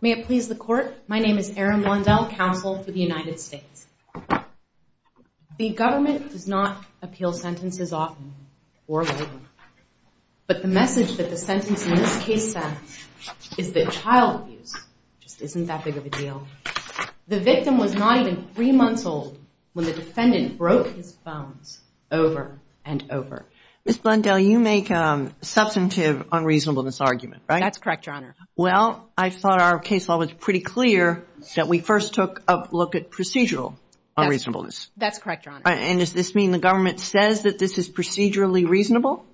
May it please the court, my name is Erin Blundell, counsel for the United States. The government does not appeal sentences often or lately, but the message that the sentence in this case sends is that child abuse just isn't that big of a deal. The victim was not even three months old when the defendant broke his bones over and over. Ms. Blundell, you make a substantive unreasonable misargument, right? That's correct, Your Honor. Well, I thought our case law was pretty clear that we first took a look at procedural unreasonableness. That's correct, Your Honor. And does this mean the government says that this is procedurally reasonable?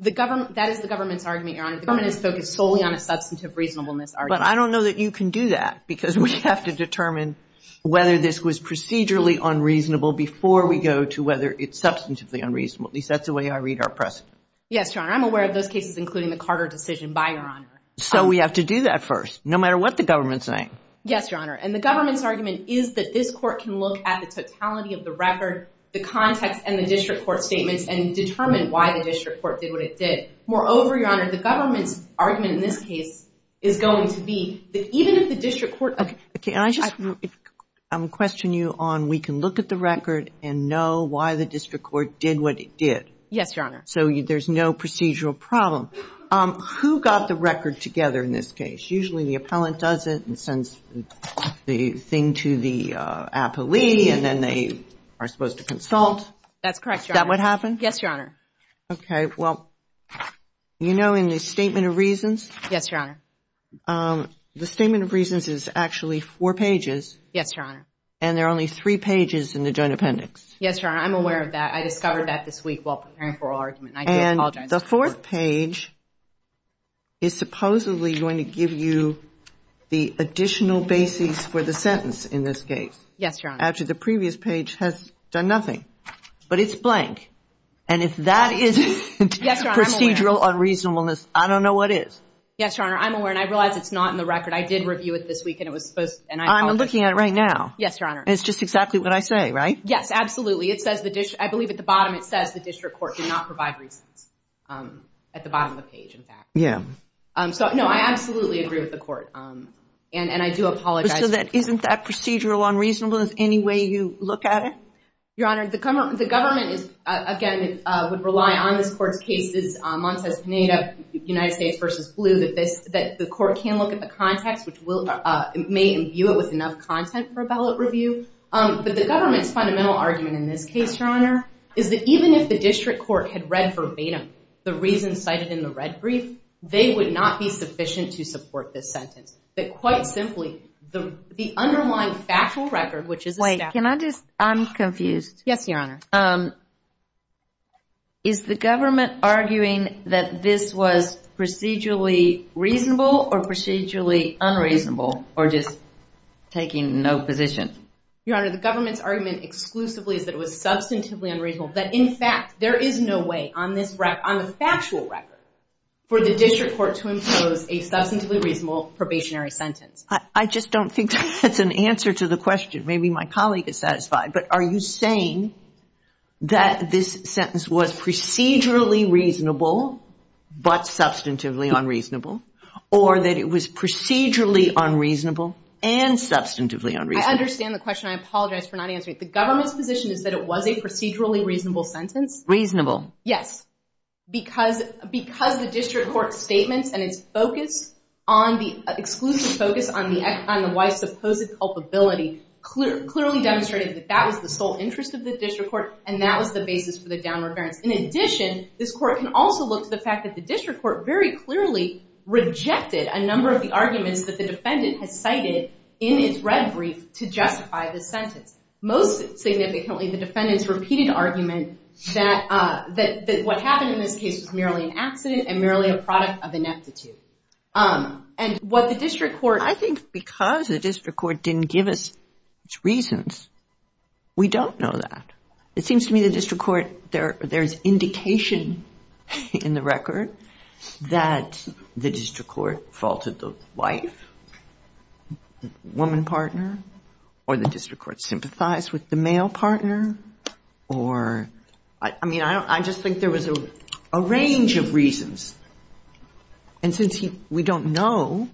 The government, that is the government's argument, Your Honor. The government is focused solely on a substantive reasonableness argument. But I don't know that you can do that because we have to determine whether this was procedurally unreasonable before we go to whether it's substantively unreasonable. At least that's the way I read our precedent. Yes, Your Honor. I'm aware of those cases, including the Carter decision, by Your Honor. So we have to do that first, no matter what the government's saying? Yes, Your Honor. And the government's argument is that this court can look at the totality of the record, the context, and the district court statements and determine why the district court did what it did. Moreover, Your Honor, the government's argument in this case is going to be that even if the district court— Okay. Can I just question you on we can look at the record and know why the district court did what it did? Yes, Your Honor. So there's no procedural problem. Who got the record together in this case? Usually the appellant does it and sends the thing to the appellee, and then they are supposed to consult. That's correct, Your Honor. Is that what happened? Yes, Your Honor. Okay. Well, you know in the Statement of Reasons— Yes, Your Honor. The Statement of Reasons is actually four pages. Yes, Your Honor. And there are only three pages in the Joint Appendix. Yes, Your Honor. I'm aware of that. I discovered that this week while preparing for oral argument, and I do apologize. And the fourth page is supposedly going to give you the additional basis for the sentence in this case. Yes, Your Honor. Actually, the previous page has done nothing, but it's blank. And if that isn't procedural unreasonableness, I don't know what is. Yes, Your Honor. I'm aware, and I realize it's not in the record. I did review it this week, and it was supposed— I'm looking at it right now. Yes, Your Honor. And it's just exactly what I say, right? Yes, absolutely. I believe at the bottom, it says the district court did not provide reasons, at the bottom of the page, in fact. Yes. So, no, I absolutely agree with the court, and I do apologize. So, isn't that procedural unreasonableness any way you look at it? Your Honor, the government, again, would rely on this court's cases, Montes Pineda, United States v. Blue, that the court can look at the context, which may imbue it with enough content for a ballot review. But the government's fundamental argument in this case, Your Honor, is that even if the district court had read verbatim the reasons cited in the red brief, they would not be sufficient to support this sentence. That, quite simply, the underlying factual record, which is a— Wait. Can I just—I'm confused. Yes, Your Honor. Is the government arguing that this was procedurally reasonable or procedurally unreasonable, or is it just taking no position? Your Honor, the government's argument exclusively is that it was substantively unreasonable, that, in fact, there is no way on the factual record for the district court to impose a substantively reasonable probationary sentence. I just don't think that's an answer to the question. Maybe my colleague is satisfied, but are you saying that this sentence was procedurally reasonable but substantively unreasonable, or that it was procedurally unreasonable and substantively unreasonable? I understand the question. I apologize for not answering it. The government's position is that it was a procedurally reasonable sentence. Reasonable. Yes. Because the district court's statements and its focus on the—exclusive focus on the wife's supposed culpability clearly demonstrated that that was the sole interest of the district court, and that was the basis for the downward bearance. In addition, this court can also look to the fact that the district court very clearly rejected a number of the arguments that the defendant has cited in its red brief to justify this sentence. Most significantly, the defendant's repeated argument that what happened in this case was merely an accident and merely a product of ineptitude. And what the district court— I think because the district court didn't give us its reasons, we don't know that. It seems to me the district court—there's indication in the record that the district court faulted the wife, woman partner, or the district court sympathized with the male partner, or—I mean, I just think there was a range of reasons. And since we don't know—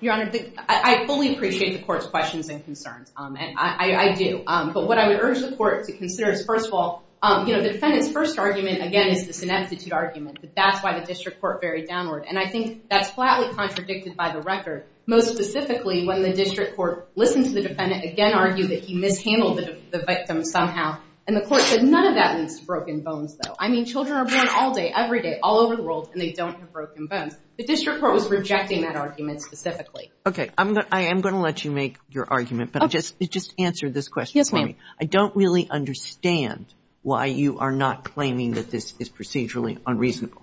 Your Honor, I fully appreciate the court's questions and concerns. I do. But what I would urge the court to consider is, first of all, the defendant's first argument, again, is this ineptitude argument, that that's why the district court varied downward. And I think that's flatly contradicted by the record. Most specifically, when the district court listened to the defendant again argue that he mishandled the victim somehow, and the court said, none of that means broken bones, though. I mean, children are born all day, every day, all over the world, and they don't have broken bones. The district court was rejecting that argument specifically. Okay. I am going to let you make your argument, but just answer this question for me. Yes, ma'am. I don't really understand why you are not claiming that this is procedurally unreasonable.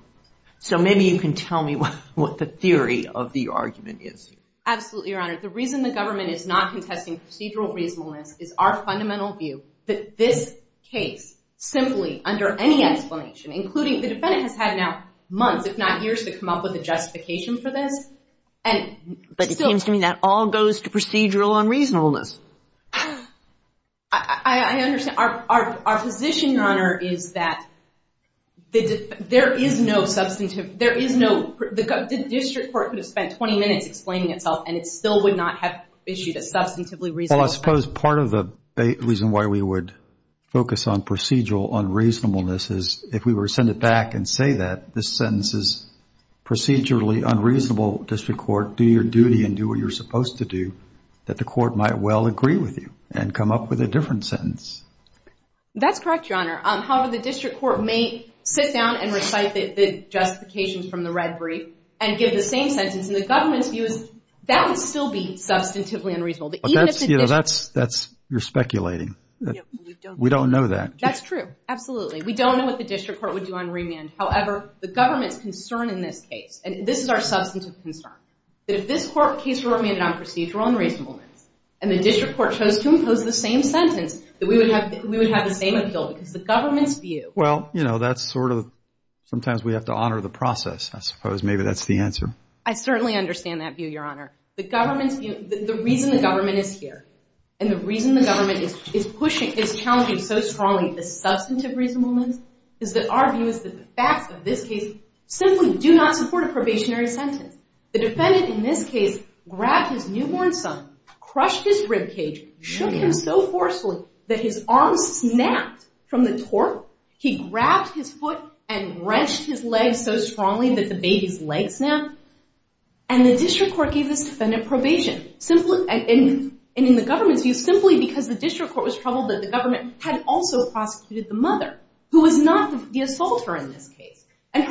So maybe you can tell me what the theory of the argument is. Absolutely, Your Honor. The reason the government is not contesting procedural reasonableness is our fundamental view that this case, simply, under any explanation, including—the defendant has had now months, if not years, to come up with a justification for this. But it seems to me that all goes to procedural unreasonableness. I understand. Our position, Your Honor, is that there is no substantive—there is no—the district court could have spent 20 minutes explaining itself, and it still would not have issued a substantively reasonable— Well, I suppose part of the reason why we would focus on procedural unreasonableness is if we were to send it back and say that this sentence is procedurally unreasonable, district court, do your duty and do what you are supposed to do, that the court might well agree with you and come up with a different sentence. That's correct, Your Honor. However, the district court may sit down and recite the justifications from the red brief and give the same sentence, and the government's view is that would still be substantively unreasonable. But that's—you're speculating. We don't know that. That's true. Absolutely. We don't know what the district court would do on remand. However, the government's concern in this case—and this is our substantive concern—that if this court case were remanded on procedural unreasonableness and the district court chose to impose the same sentence, that we would have the same appeal because the government's view— Well, you know, that's sort of—sometimes we have to honor the process, I suppose. Maybe that's the answer. I certainly understand that view, Your Honor. The government's view—the reason the government is here and the reason the government is pushing—is challenging so strongly the substantive reasonableness is that our view is that the facts of this case simply do not support a probationary sentence. The defendant in this case grabbed his newborn son, crushed his ribcage, shook him so forcefully that his arm snapped from the torque. He grabbed his foot and wrenched his leg so strongly that the baby's leg snapped, and the district court gave this defendant probation, and in the government's view, simply because the district court was troubled that the government had also prosecuted the mother, who was not the assaulter in this case, and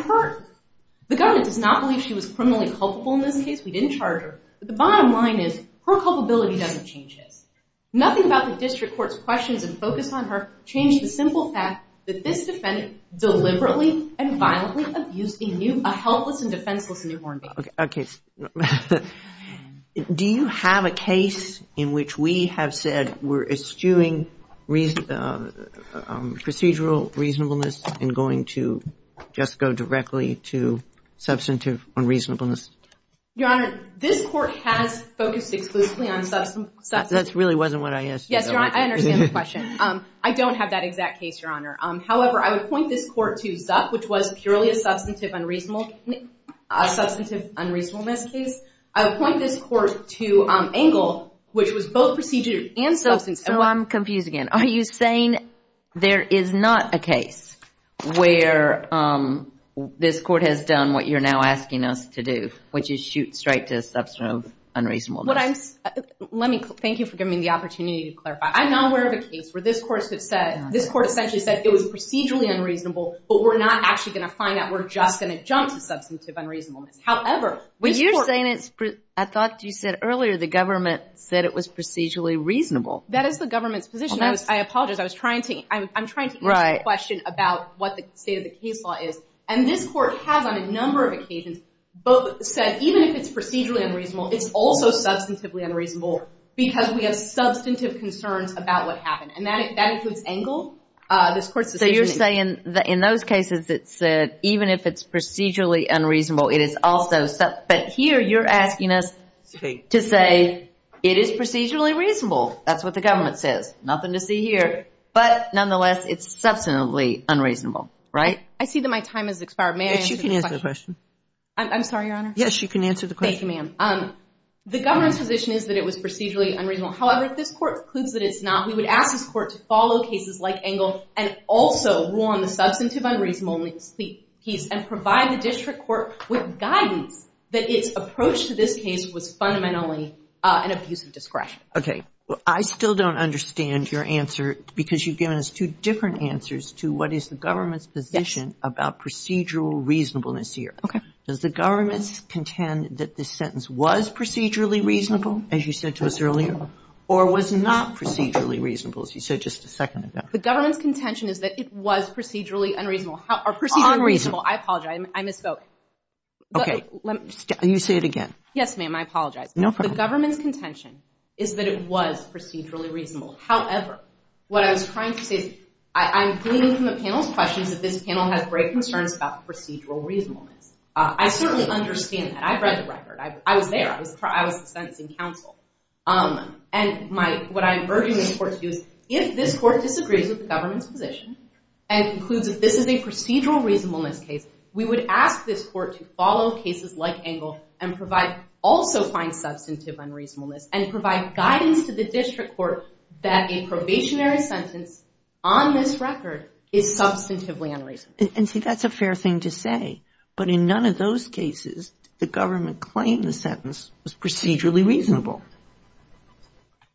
the government does not believe she was criminally culpable in this case. We didn't charge her. But the bottom line is, her culpability doesn't change his. Nothing about the district court's questions and focus on her changed the simple fact that this defendant deliberately and violently abused a helpless and defenseless newborn baby. Okay. Do you have a case in which we have said we're eschewing procedural reasonableness and going to just go directly to substantive unreasonableness? Your Honor, this court has focused exclusively on substantive— That really wasn't what I asked. Yes, Your Honor. I understand the question. I don't have that exact case, Your Honor. However, I would point this court to Zuck, which was purely a substantive unreasonableness case. I would point this court to Engle, which was both procedural and substantive— I'm confused again. Are you saying there is not a case where this court has done what you're now asking us to do, which is shoot straight to a substantive unreasonableness? Thank you for giving me the opportunity to clarify. I'm not aware of a case where this court essentially said it was procedurally unreasonable, but we're not actually going to find that we're just going to jump to substantive unreasonableness. However, which court— You're saying it's—I thought you said earlier the government said it was procedurally reasonable. That is the government's position. I apologize. I'm trying to answer the question about what the state of the case law is. And this court has, on a number of occasions, said even if it's procedurally unreasonable, it's also substantively unreasonable because we have substantive concerns about what happened. And that includes Engle. This court's decision— So you're saying that in those cases, it said even if it's procedurally unreasonable, it is also—but here you're asking us to say it is procedurally reasonable. That's what the government says. Nothing to see here. But nonetheless, it's substantively unreasonable, right? I see that my time has expired. May I answer the question? Yes, you can answer the question. I'm sorry, Your Honor. Yes, you can answer the question. Thank you, ma'am. The government's position is that it was procedurally unreasonable. However, if this court concludes that it's not, we would ask this court to follow cases like Engle and also rule on the substantive unreasonable piece and provide the district court with guidance that its approach to this case was fundamentally an abuse of discretion. Okay. I still don't understand your answer because you've given us two different answers to what is the government's position about procedural reasonableness here. Okay. Does the government contend that this sentence was procedurally reasonable, as you said to us earlier, or was not procedurally reasonable, as you said just a second ago? The government's contention is that it was procedurally unreasonable. Unreasonable. I apologize. I misspoke. Okay. You say it again. Yes, ma'am. I apologize. No problem. The government's contention is that it was procedurally reasonable. However, what I was trying to say is I'm gleaning from the panel's questions that this panel has great concerns about procedural reasonableness. I certainly understand that. I've read the record. I was there. I was the sentencing counsel. And what I'm urging this court to do is if this court disagrees with the government's position and concludes that this is a procedural reasonableness case, we would ask this court to follow cases like Engle and provide also find substantive unreasonableness and provide guidance to the district court that a probationary sentence on this record is substantively unreasonable. And see, that's a fair thing to say. But in none of those cases, the government claimed the sentence was procedurally reasonable.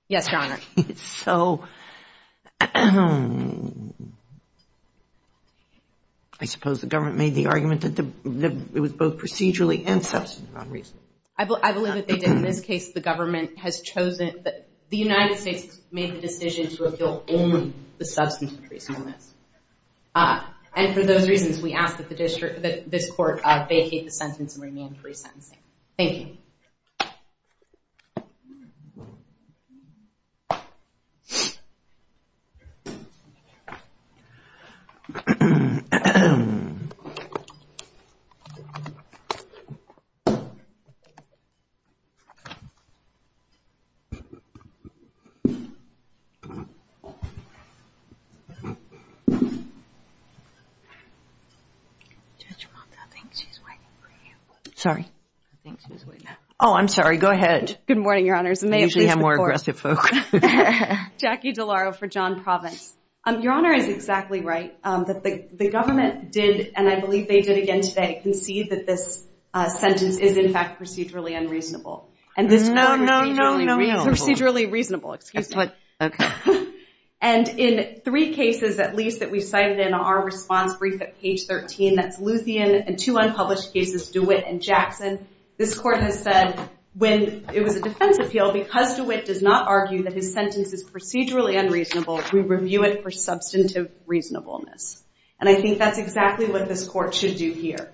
Yes, Your Honor. So, I suppose the government made the argument that it was both procedurally and substantively unreasonable. I believe that they did. In this case, the government has chosen that the United States made the decision to appeal only the substantive reasonableness. And for those reasons, we ask that this court vacate the sentence and remain free sentencing. Thank you. Judge Monta, I think she's waiting for you. Sorry. I think she's waiting. Oh, I'm sorry. Go ahead. Good morning, Your Honors. You usually have more aggressive folks. Jackie DeLauro for John Provence. Your Honor is exactly right. The government did, and I believe they did again today, concede that this sentence is in fact procedurally unreasonable. No, no, no, no, no. Procedurally reasonable. Excuse me. Okay. And in three cases at least that we cited in our response brief at page 13, that's Luthien and two unpublished cases, DeWitt and Jackson, this court has said when it was a defense appeal, because DeWitt does not argue that his sentence is procedurally unreasonable, we review it for substantive reasonableness. And I think that's exactly what this court should do here.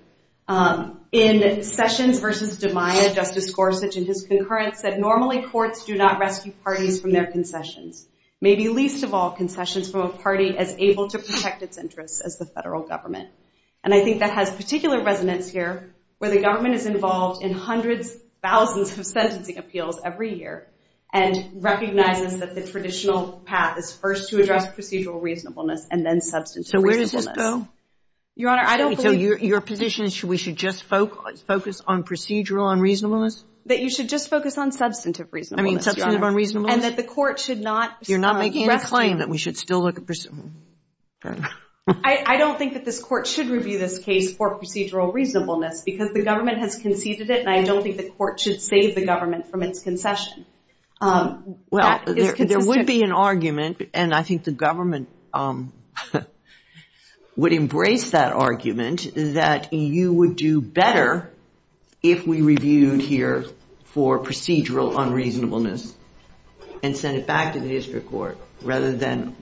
In Sessions v. DeMaia, Justice Gorsuch and his concurrence said normally courts do not maybe least of all concessions from a party as able to protect its interests as the federal government. And I think that has particular resonance here where the government is involved in hundreds, thousands of sentencing appeals every year and recognizes that the traditional path is first to address procedural reasonableness and then substantive reasonableness. So where does this go? Your Honor, I don't believe... So your position is we should just focus on procedural unreasonableness? That you should just focus on substantive reasonableness, Your Honor. I mean, substantive reasonableness. And that the court should not... You're not making a claim that we should still look at... I don't think that this court should review this case for procedural reasonableness because the government has conceded it and I don't think the court should save the government from its concession. Well, there would be an argument and I think the government would embrace that argument that you would do better if we reviewed here for procedural unreasonableness. And send it back to the district court rather than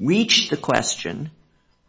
reach the question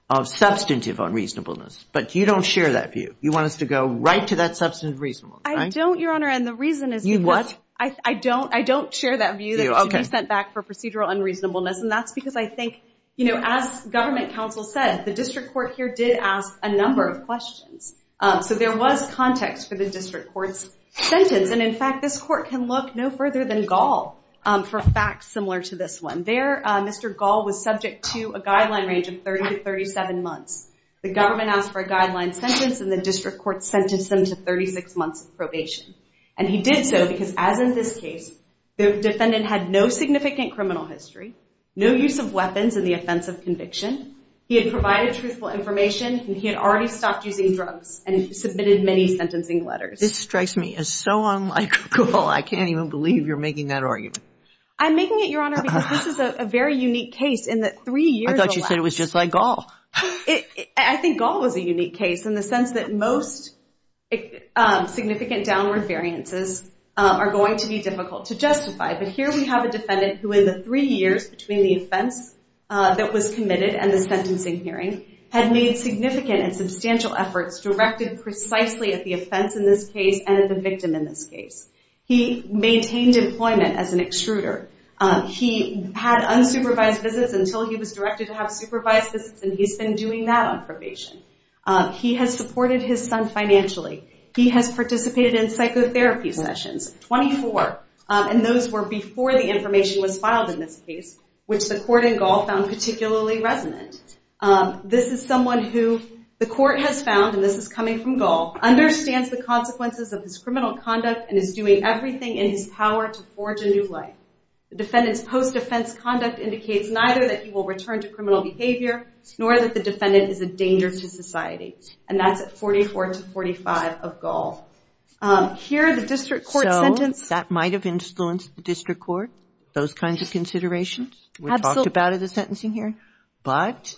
of substantive unreasonableness. But you don't share that view. You want us to go right to that substantive reasonableness, right? I don't, Your Honor. And the reason is because... You what? I don't share that view that it should be sent back for procedural unreasonableness. And that's because I think, you know, as government counsel said, the district court here did ask a number of questions. So there was context for the district court's sentence. And in fact, this court can look no further than Gall for facts similar to this one. There, Mr. Gall was subject to a guideline range of 30 to 37 months. The government asked for a guideline sentence and the district court sentenced him to 36 months of probation. And he did so because, as in this case, the defendant had no significant criminal history, no use of weapons in the offense of conviction, he had provided truthful information, and he had already stopped using drugs and submitted many sentencing letters. This strikes me as so unlike Gall. I can't even believe you're making that argument. I'm making it, Your Honor, because this is a very unique case in that three years... I thought you said it was just like Gall. I think Gall was a unique case in the sense that most significant downward variances are going to be difficult to justify. But here we have a defendant who, in the three years between the offense that was committed and the sentencing hearing, had made significant and substantial efforts directed precisely at the offense in this case and at the victim in this case. He maintained employment as an extruder. He had unsupervised visits until he was directed to have supervised visits, and he's been doing that on probation. He has supported his son financially. He has participated in psychotherapy sessions, 24. And those were before the information was filed in this case, which the court and Gall found particularly resonant. This is someone who the court has found, and this is coming from Gall, understands the consequences of his criminal conduct and is doing everything in his power to forge a new life. The defendant's post-defense conduct indicates neither that he will return to criminal behavior nor that the defendant is a danger to society. And that's at 44 to 45 of Gall. Here, the district court sentence... So, that might have influenced the district court, those kinds of considerations? Absolutely. We talked about it at the sentencing hearing. But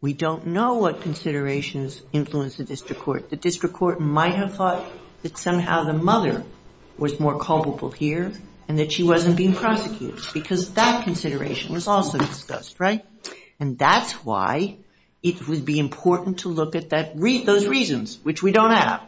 we don't know what considerations influenced the district court. The district court might have thought that somehow the mother was more culpable here and that she wasn't being prosecuted, because that consideration was also discussed, right? And that's why it would be important to look at those reasons, which we don't have.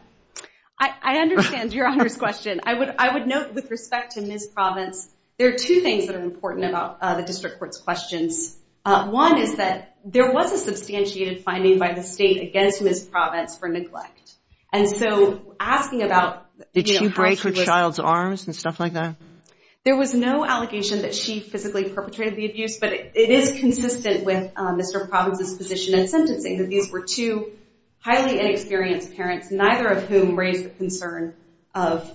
I understand Your Honor's question. I would note, with respect to Ms. Provence, there are two things that are important about the district court's questions. One is that there was a substantiated finding by the state against Ms. Provence for neglect. And so, asking about... Did she break her child's arms and stuff like that? There was no allegation that she physically perpetrated the abuse, but it is consistent with Mr. Provence's position at sentencing, that these were two highly inexperienced parents, neither of whom raised the concern of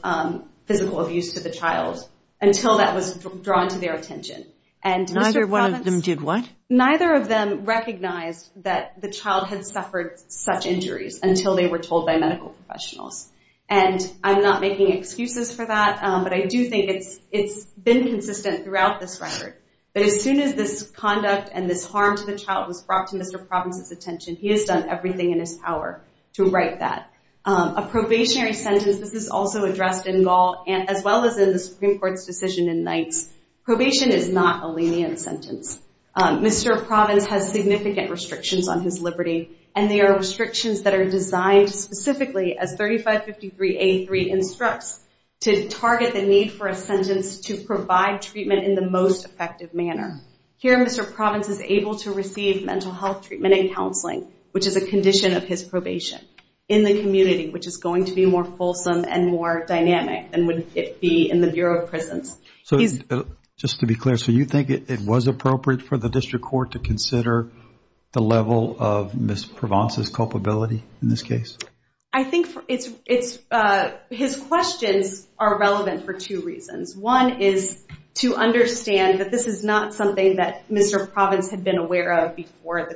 physical abuse to the child until that was drawn to their attention. Neither one of them did what? Neither of them recognized that the child had suffered such injuries until they were told by medical professionals. And I'm not making excuses for that, but I do think it's been consistent throughout this record. But as soon as this conduct and this harm to the child was brought to Mr. Provence's attention, he has done everything in his power to right that. A probationary sentence, this is also addressed in Gaul, as well as in the Supreme Court's decision in Knights. Probation is not a lenient sentence. Mr. Provence has significant restrictions on his liberty, and they are restrictions that are designed specifically as 3553A3 instructs to target the need for a sentence to provide treatment in the most effective manner. Here, Mr. Provence is able to receive mental health treatment and counseling, which is a condition of his probation, in the community, which is going to be more fulsome and more dynamic than would it be in the Bureau of Prisons. So just to be clear, so you think it was appropriate for the district court to consider the level of Ms. Provence's culpability in this case? I think his questions are relevant for two reasons. One is to understand that this is not something that Mr. Provence had been aware of before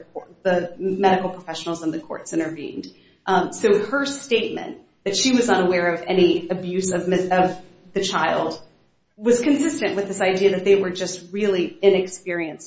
the medical professionals in the courts intervened. So her statement that she was unaware of any abuse of the child was consistent with this idea that they were just really inexperienced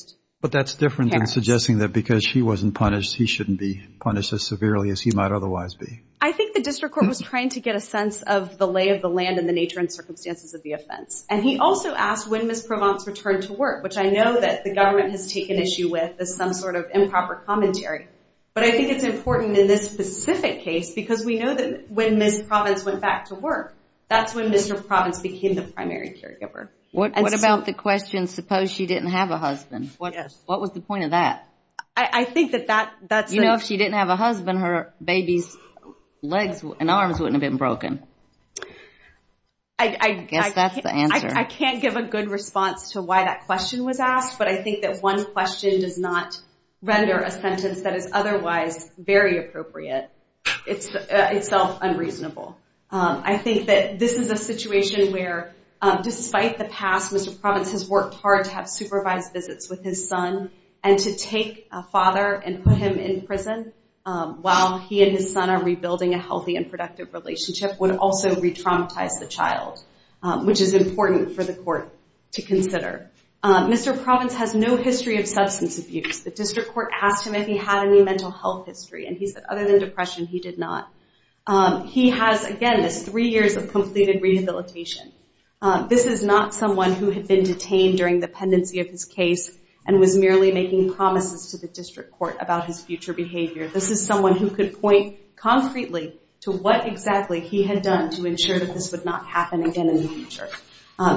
parents. But that's different than suggesting that because she wasn't punished, he shouldn't be punished as severely as he might otherwise be. I think the district court was trying to get a sense of the lay of the land and the nature and circumstances of the offense. And he also asked when Ms. Provence returned to work, which I know that the government has taken issue with as some sort of improper commentary. But I think it's important in this specific case because we know that when Ms. Provence went back to work, that's when Mr. Provence became the primary caregiver. What about the question, suppose she didn't have a husband? What was the point of that? I think that that's... You know, if she didn't have a husband, her baby's legs and arms wouldn't have been broken. I guess that's the answer. I can't give a good response to why that question was asked, but I think that one question does not render a sentence that is otherwise very appropriate. It's itself unreasonable. I think that this is a situation where, despite the past, Mr. Provence has worked hard to have supervised visits with his son and to take a father and put him in prison while he and his son are rebuilding a healthy and productive relationship would also re-traumatize the child, which is important for the court to consider. Mr. Provence has no history of substance abuse. The district court asked him if he had any mental health history and he said other than depression, he did not. He has, again, three years of completed rehabilitation. This is not someone who had been detained during the pendency of his case and was merely making promises to the district court about his future behavior. This is someone who could point concretely to what exactly he had done to ensure that this would not happen again in the future.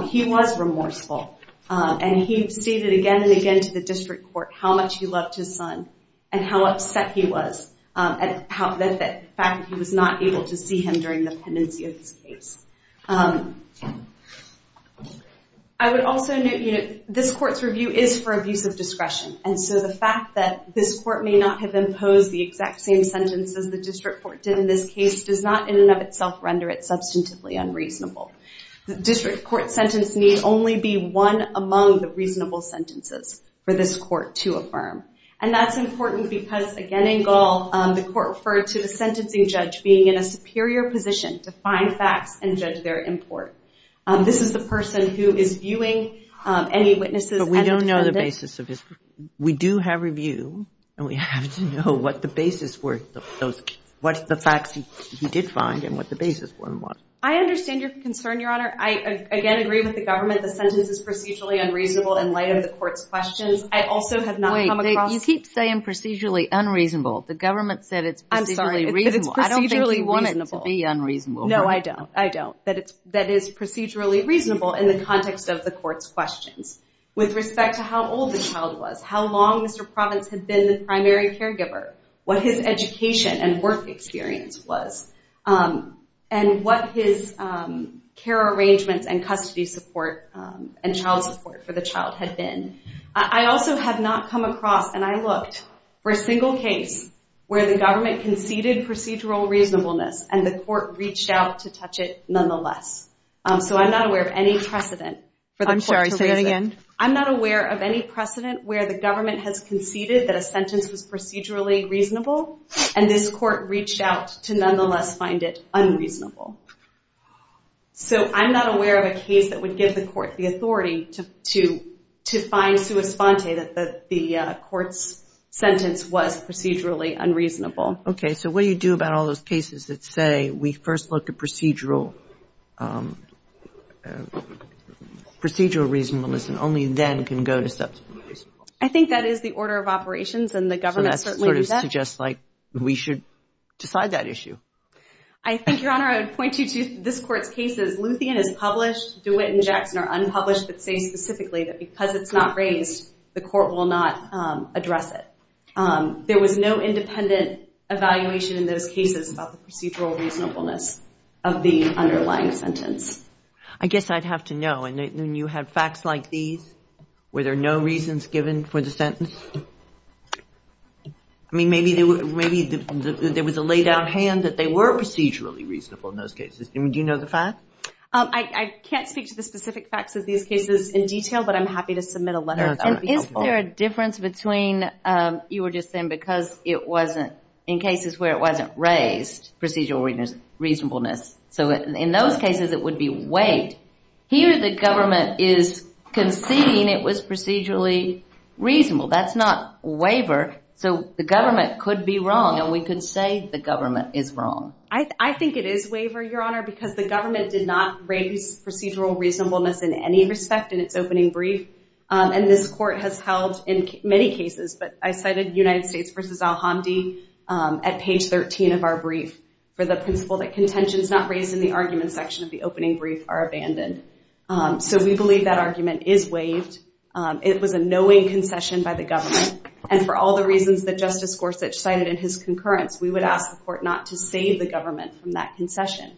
He was remorseful, and he stated again and again to the district court how much he loved his son and how upset he was at the fact that he was not able to see him during the pendency of his case. I would also note, you know, this court's review is for abuse of discretion, and so the fact that this court may not have imposed the exact same sentences the district court did in this case does not in and of itself render it substantively unreasonable. The district court sentence need only be one among the reasonable sentences for this court to affirm. And that's important because, again, in Gall, the court referred to the sentencing judge being in a superior position to find facts and judge their import. This is the person who is viewing any witnesses and defendants... But we don't know the basis of his... We do have review, and we have to know what the basis were of those... what the facts he did find and what the basis for them was. I understand your concern, Your Honor. I, again, agree with the government the sentence is procedurally unreasonable in light of the court's questions. Wait. You keep saying procedurally unreasonable. The government said it's procedurally reasonable. I'm sorry, but it's procedurally reasonable. I don't think you want it to be unreasonable. No, I don't. I don't. That it's procedurally reasonable in the context of the court's questions with respect to how old the child was, how long Mr. Provance had been the primary caregiver, what his education and work experience was, and what his care arrangements and custody support and child support for the child had been. I also have not come across and I looked for a single case where the government conceded procedural reasonableness and the court reached out to touch it nonetheless. So I'm not aware of any precedent... I'm sorry, say that again. I'm not aware of any precedent where the government has conceded that a sentence was procedurally reasonable and this court reached out to nonetheless find it unreasonable. So I'm not aware of a case that would give the court the authority to find sua sponte that the court's sentence was procedurally unreasonable. Okay, so what do you do about all those cases that say we first looked at procedural... procedural reasonableness and only then can go to... I think that is the order of operations and the government certainly does that. So that sort of suggests we should decide that issue. I think, Your Honor, I would point you to this court's cases. Luthien is published. DeWitt and Jackson are unpublished but say specifically that because it's not raised the court will not address it. There was no independent evaluation in those cases about the procedural reasonableness of the underlying sentence. I guess I'd have to know when you have facts like these were there no reasons given for the sentence? I mean, maybe there was a lay down hand that they were procedurally reasonable in those cases. Do you know the fact? I can't speak to the specific facts of these cases in detail but I'm happy to submit a letter if that would be helpful. Is there a difference between... you were just saying because it wasn't in cases where it wasn't raised procedural reasonableness. So in those cases it would be wait. Here the government is conceding it was procedurally reasonable. That's not waiver. So the government could be wrong and we could say the government is wrong. I think it is waiver, Your Honor because the government did not raise procedural reasonableness in any respect in its opening brief and this court has held in many cases but I cited United States v. Al-Hamdi at page 13 of our brief for the principle that contentions not raised in the argument section of the opening brief are abandoned. So we believe that argument is waived. It was a knowing concession by the government and for all the reasons that Justice Gorsuch cited in his concurrence we would ask the court not to save the government from that concession.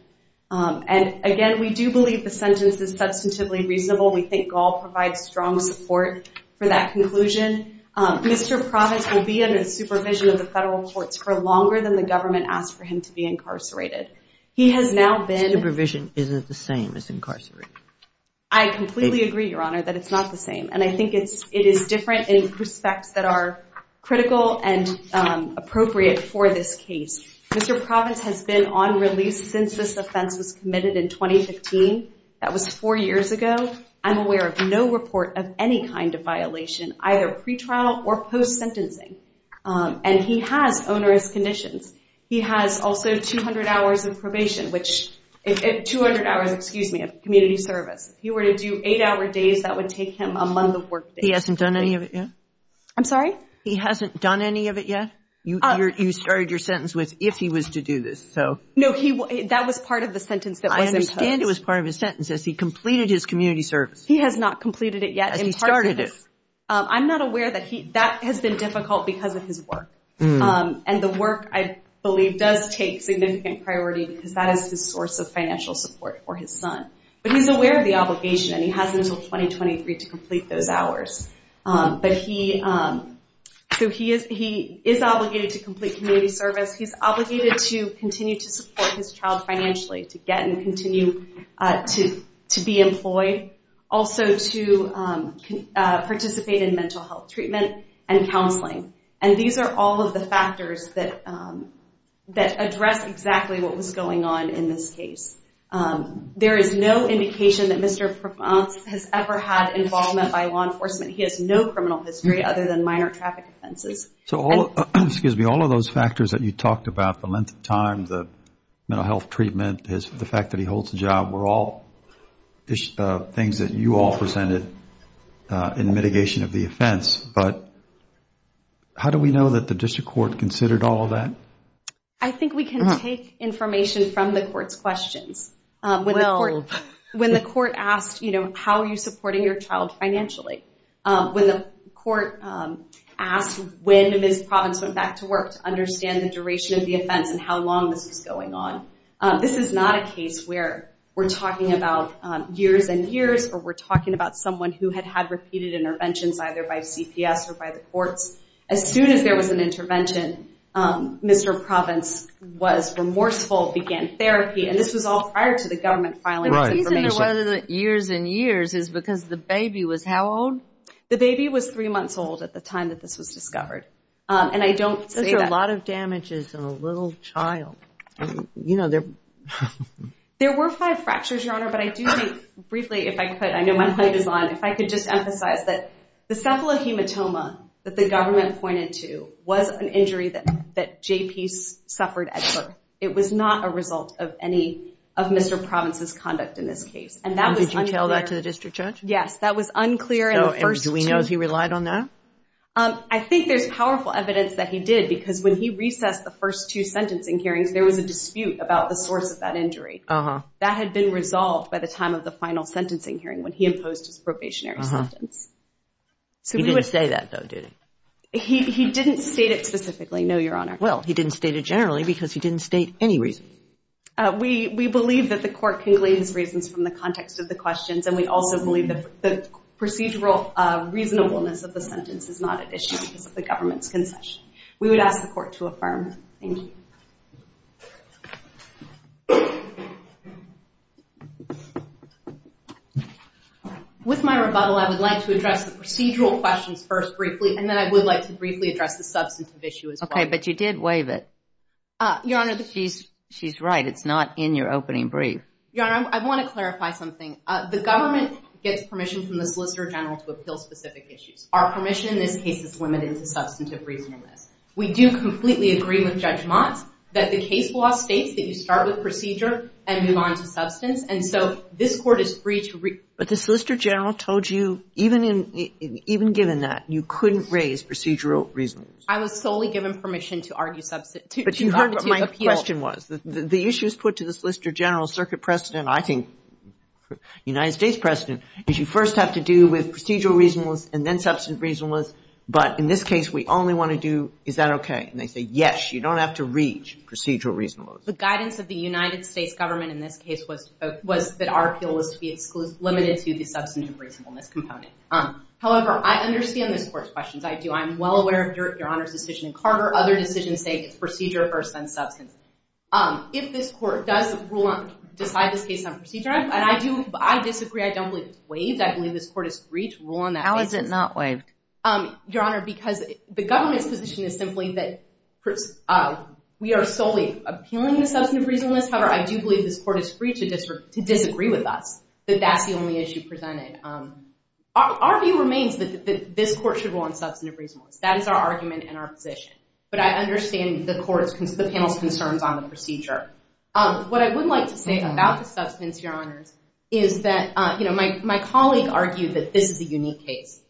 And again we do believe the sentence is substantively reasonable. We think Gall provides strong support for that conclusion. Mr. Provance will be under the supervision of the federal courts for longer than the government asked for him to be incarcerated. He has now been... Supervision isn't the same as incarceration. I completely agree, Your Honor, that it's not the same and I think it is different in respects that are critical and appropriate for this case. Mr. Provance has been on release since this offense was committed in 2015. That was four years ago. I'm aware of no report of any kind of violation either pretrial or post sentencing. And he has onerous conditions. He has also 200 hours of probation which... 200 hours, excuse me, of community service. If he were to do 8 hour days that would take him a month of work. He hasn't done any of it yet? I'm sorry? He hasn't done any of it yet? You started your sentence with, if he was to do this. No, that was part of the sentence that was imposed. I understand it was part of his sentence as he completed his community service. He has not completed it yet. As he started it. I'm not aware that he... that has been difficult because of his work. And the work, I believe, does take significant priority because that is his source of financial support for his son. But he's aware of the obligation and he has until 2023 to complete those hours. So he is obligated to complete community service. He's obligated to continue to support his child financially. To get and continue to be employed. Also to participate in mental health treatment and counseling. And these are all of the factors that address exactly what was going on in this case. There is no indication that Mr. Provence has ever had involvement by law enforcement. He has no criminal history other than minor traffic offenses. So all of those factors that you talked about, the length of time, the mental health treatment, the fact that he holds a job, were all things that you all presented in mitigation of the offense. But how do we know that the District Court considered all of that? I think we can take information from the Court's questions. When the Court asked, you know, how are you supporting your child financially? When the Court asked when Ms. Provence went back to work to understand the duration of the offense and how long this was going on. This is not a case where we're talking about years and years or we're talking about someone who had had repeated interventions either by CPS or by the courts. As soon as there was an intervention, Mr. Provence was remorseful, began therapy, and this was all prior to the government filing information. Years and years is because the baby was how old? The baby was three months old at the time that this was discovered. And I don't say that. That's a lot of damages on a little child. There were five fractures, Your Honor, but I do think, briefly, if I could, I know my point is on, if I could just emphasize that the cephalohematoma that the government pointed to was an injury that J.P. suffered at birth. It was not a result of any of Mr. Provence's conduct in this case. Did you tell that to the district judge? Yes, that was unclear. Do we know if he relied on that? I think there's powerful evidence that he did because when he recessed the first two sentencing hearings, there was a dispute about the source of that injury. That had been resolved by the time of the final sentencing hearing when he imposed his probationary sentence. He didn't say that, though, did he? He didn't state it generally because he didn't state any reason. We believe that the court can glean his reasons from the context of the questions, and we also believe that the procedural reasonableness of the sentence is not at issue because of the government's concession. We would ask the court to affirm. Thank you. With my rebuttal, I would like to address the procedural questions first, briefly, and then I would like to briefly address the substantive issue as well. Okay, but you did waive it. Your Honor, the... She's right. It's not in your opening brief. Your Honor, I want to clarify something. The government gets permission from the Solicitor General to appeal specific issues. Our permission in this case is limited to substantive reasonableness. We do completely agree with Judge Mott that the case law states that you start with procedure and move on to substance, and so this court is free to... But the Solicitor General told you, even given that, you couldn't raise procedural reasonableness. I was solely given permission to argue... But you heard what my question was. The issues put to the Solicitor General, Circuit President, I think United States President, is you first have to do with procedural reasonableness and then substantive reasonableness, but in this case we only want to do, is that okay? And they say, yes, you don't have to reach procedural reasonableness. The guidance of the United States government in this case was that our appeal was to be limited to the substantive reasonableness component. However, I understand this court's questions. I do. I'm well aware of your Honor's decision in Carter. Other decisions say it's procedure first, then substance. If this court does decide this case on procedure, and I do disagree. I don't believe it's waived. I believe this court is free to rule on that basis. How is it not waived? Your Honor, because the government's position is simply that we are solely appealing to substantive reasonableness. However, I do believe this court is free to disagree with us, that that's the only issue presented. Our view remains that this court should rule on substantive reasonableness. That is our argument and our position. But I understand the panel's concerns on the procedure. What I would like to say about the substance, Your Honor, is that my colleague argued that this is a unique case.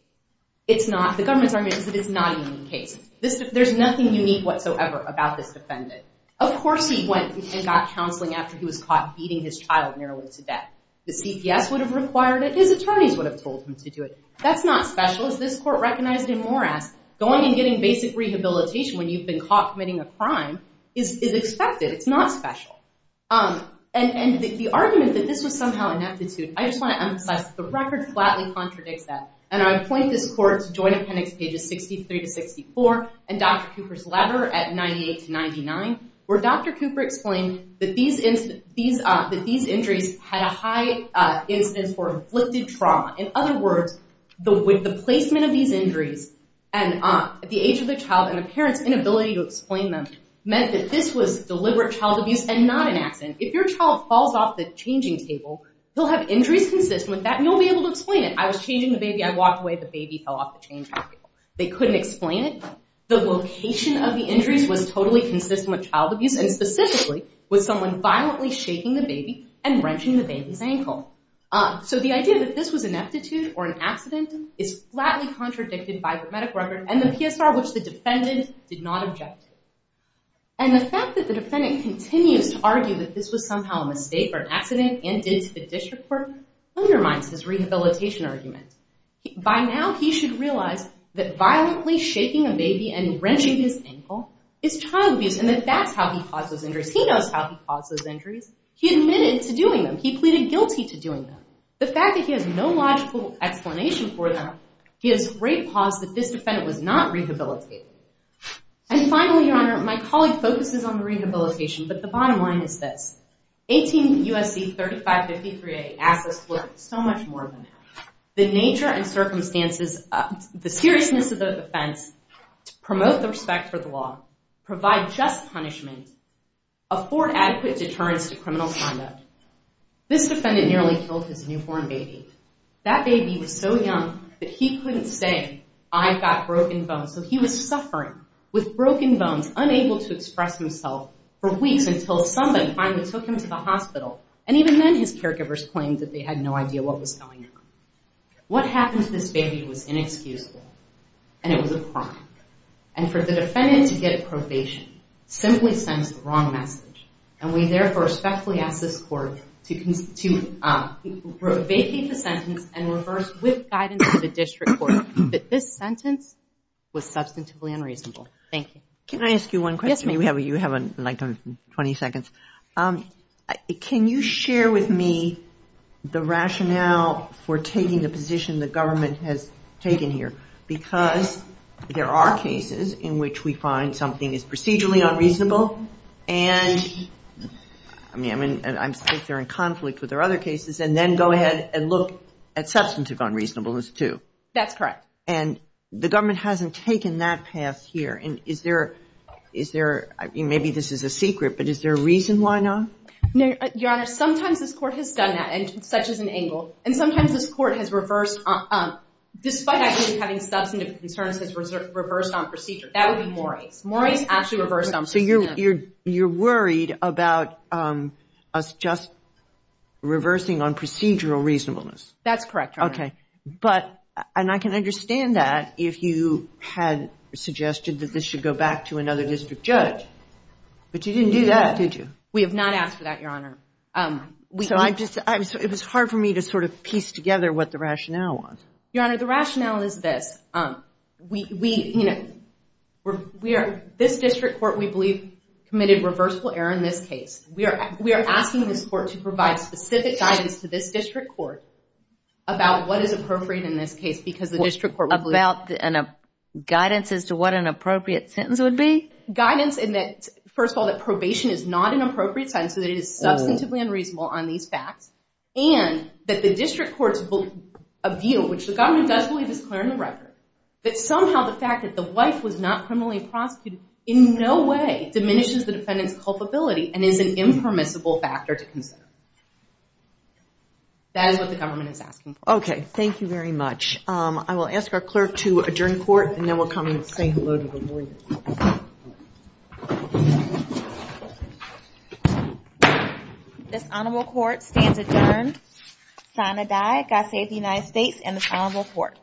The government's argument is that it's not a unique case. There's nothing unique whatsoever about this defendant. Of course he went and got counseling after he was caught beating his child nearly to death. The CPS would have required it. His attorneys would have told him to do it. That's not special. As this court recognized in Morass, going and getting basic rehabilitation when you've been caught committing a crime is expected. It's not special. And the argument that this was somehow ineptitude, I just want to emphasize that the record flatly contradicts that. And I point this court to Joint Appendix pages 63 to 64 and Dr. Cooper's letter at 98 to 99 where Dr. Cooper explained that these injuries had a high incidence for inflicted trauma. In other words, the placement of these injuries at the age of the child and the parent's inability to explain them meant that this was deliberate child abuse and not an accident. If your child falls off the changing table, they'll have injuries consistent with that and you'll be able to explain it. I was changing the baby, I walked away, the baby fell off the changing table. They couldn't explain it. The location of the injuries was totally consistent with child abuse and specifically with someone violently shaking the baby and wrenching the baby's ankle. So the idea that this was an ineptitude or an accident is flatly contradicted by the medical record and the PSR which the defendant did not object to. And the fact that the defendant continues to argue that this was somehow a mistake or an accident and did to the district court undermines his rehabilitation argument. By now he should realize that violently shaking a baby and wrenching his ankle is child abuse and that that's how he caused those injuries. He knows how he caused those injuries. He admitted to doing them. He pleaded guilty to doing them. The fact that he has no logical explanation for them gives great pause that this defendant was not rehabilitated. And finally, Your Honor, my colleague focuses on the rehabilitation, but the bottom line is this. 18 U.S.C. 3553A than that. The nature and circumstances, the seriousness of the offense to promote the respect for the law, provide just punishment, afford adequate deterrence to criminal conduct. This defendant nearly killed his newborn baby. That baby was so young that he couldn't say, I've got broken bones. So he was suffering with broken bones, unable to express himself for weeks until somebody finally took him to the hospital. And even then, his caregivers claimed that they had no idea what was going on. What happened to this baby was inexcusable and it was a crime. And for the defendant to get a probation simply sends the wrong message. And we therefore respectfully ask this Court to vacate the sentence and reverse with guidance to the District Court that this sentence was substantively unreasonable. Thank you. Can I ask you one question? Yes, ma'am. You have like 20 seconds. Can you share with me the rationale for taking the position the because there are cases in which we find something is procedurally unreasonable and I mean they're in conflict with their other cases and then go ahead and look at substantive unreasonableness too. That's correct. And the government hasn't taken that path here. Is there, maybe this is a secret, but is there a reason why not? Your Honor, sometimes this Court has done that and such is an angle. And sometimes this Court has reversed despite actually having substantive concerns, has reversed on procedure. That would be Morris. Morris actually reversed on procedure. So you're worried about us just reversing on procedural reasonableness? That's correct, Your Honor. Okay. But and I can understand that if you had suggested that this should go back to another District Judge. But you didn't do that, did you? We have not asked for that, Your Honor. So it was hard for me to sort of piece together what the rationale was. Your Honor, the rationale is this. We, you know, we are, this District Court, we believe, committed reversible error in this case. We are asking this Court to provide specific guidance to this District Court about what is appropriate in this case because the District Court... About guidance as to what an appropriate sentence would be? Guidance in that first of all that probation is not an appropriate sentence so that it is substantively unreasonable on these facts and that the District Court's view which the government does believe is clear in the record that somehow the fact that the wife was not criminally prosecuted in no way diminishes the defendant's culpability and is an impermissible factor to consider. That is what the government is asking for. Okay. Thank you very much. I will ask our clerk to adjourn court and then we'll come and say hello to the board. This Honorable Court stands adjourned. Sign-a-die. God save the United States and this Honorable Court.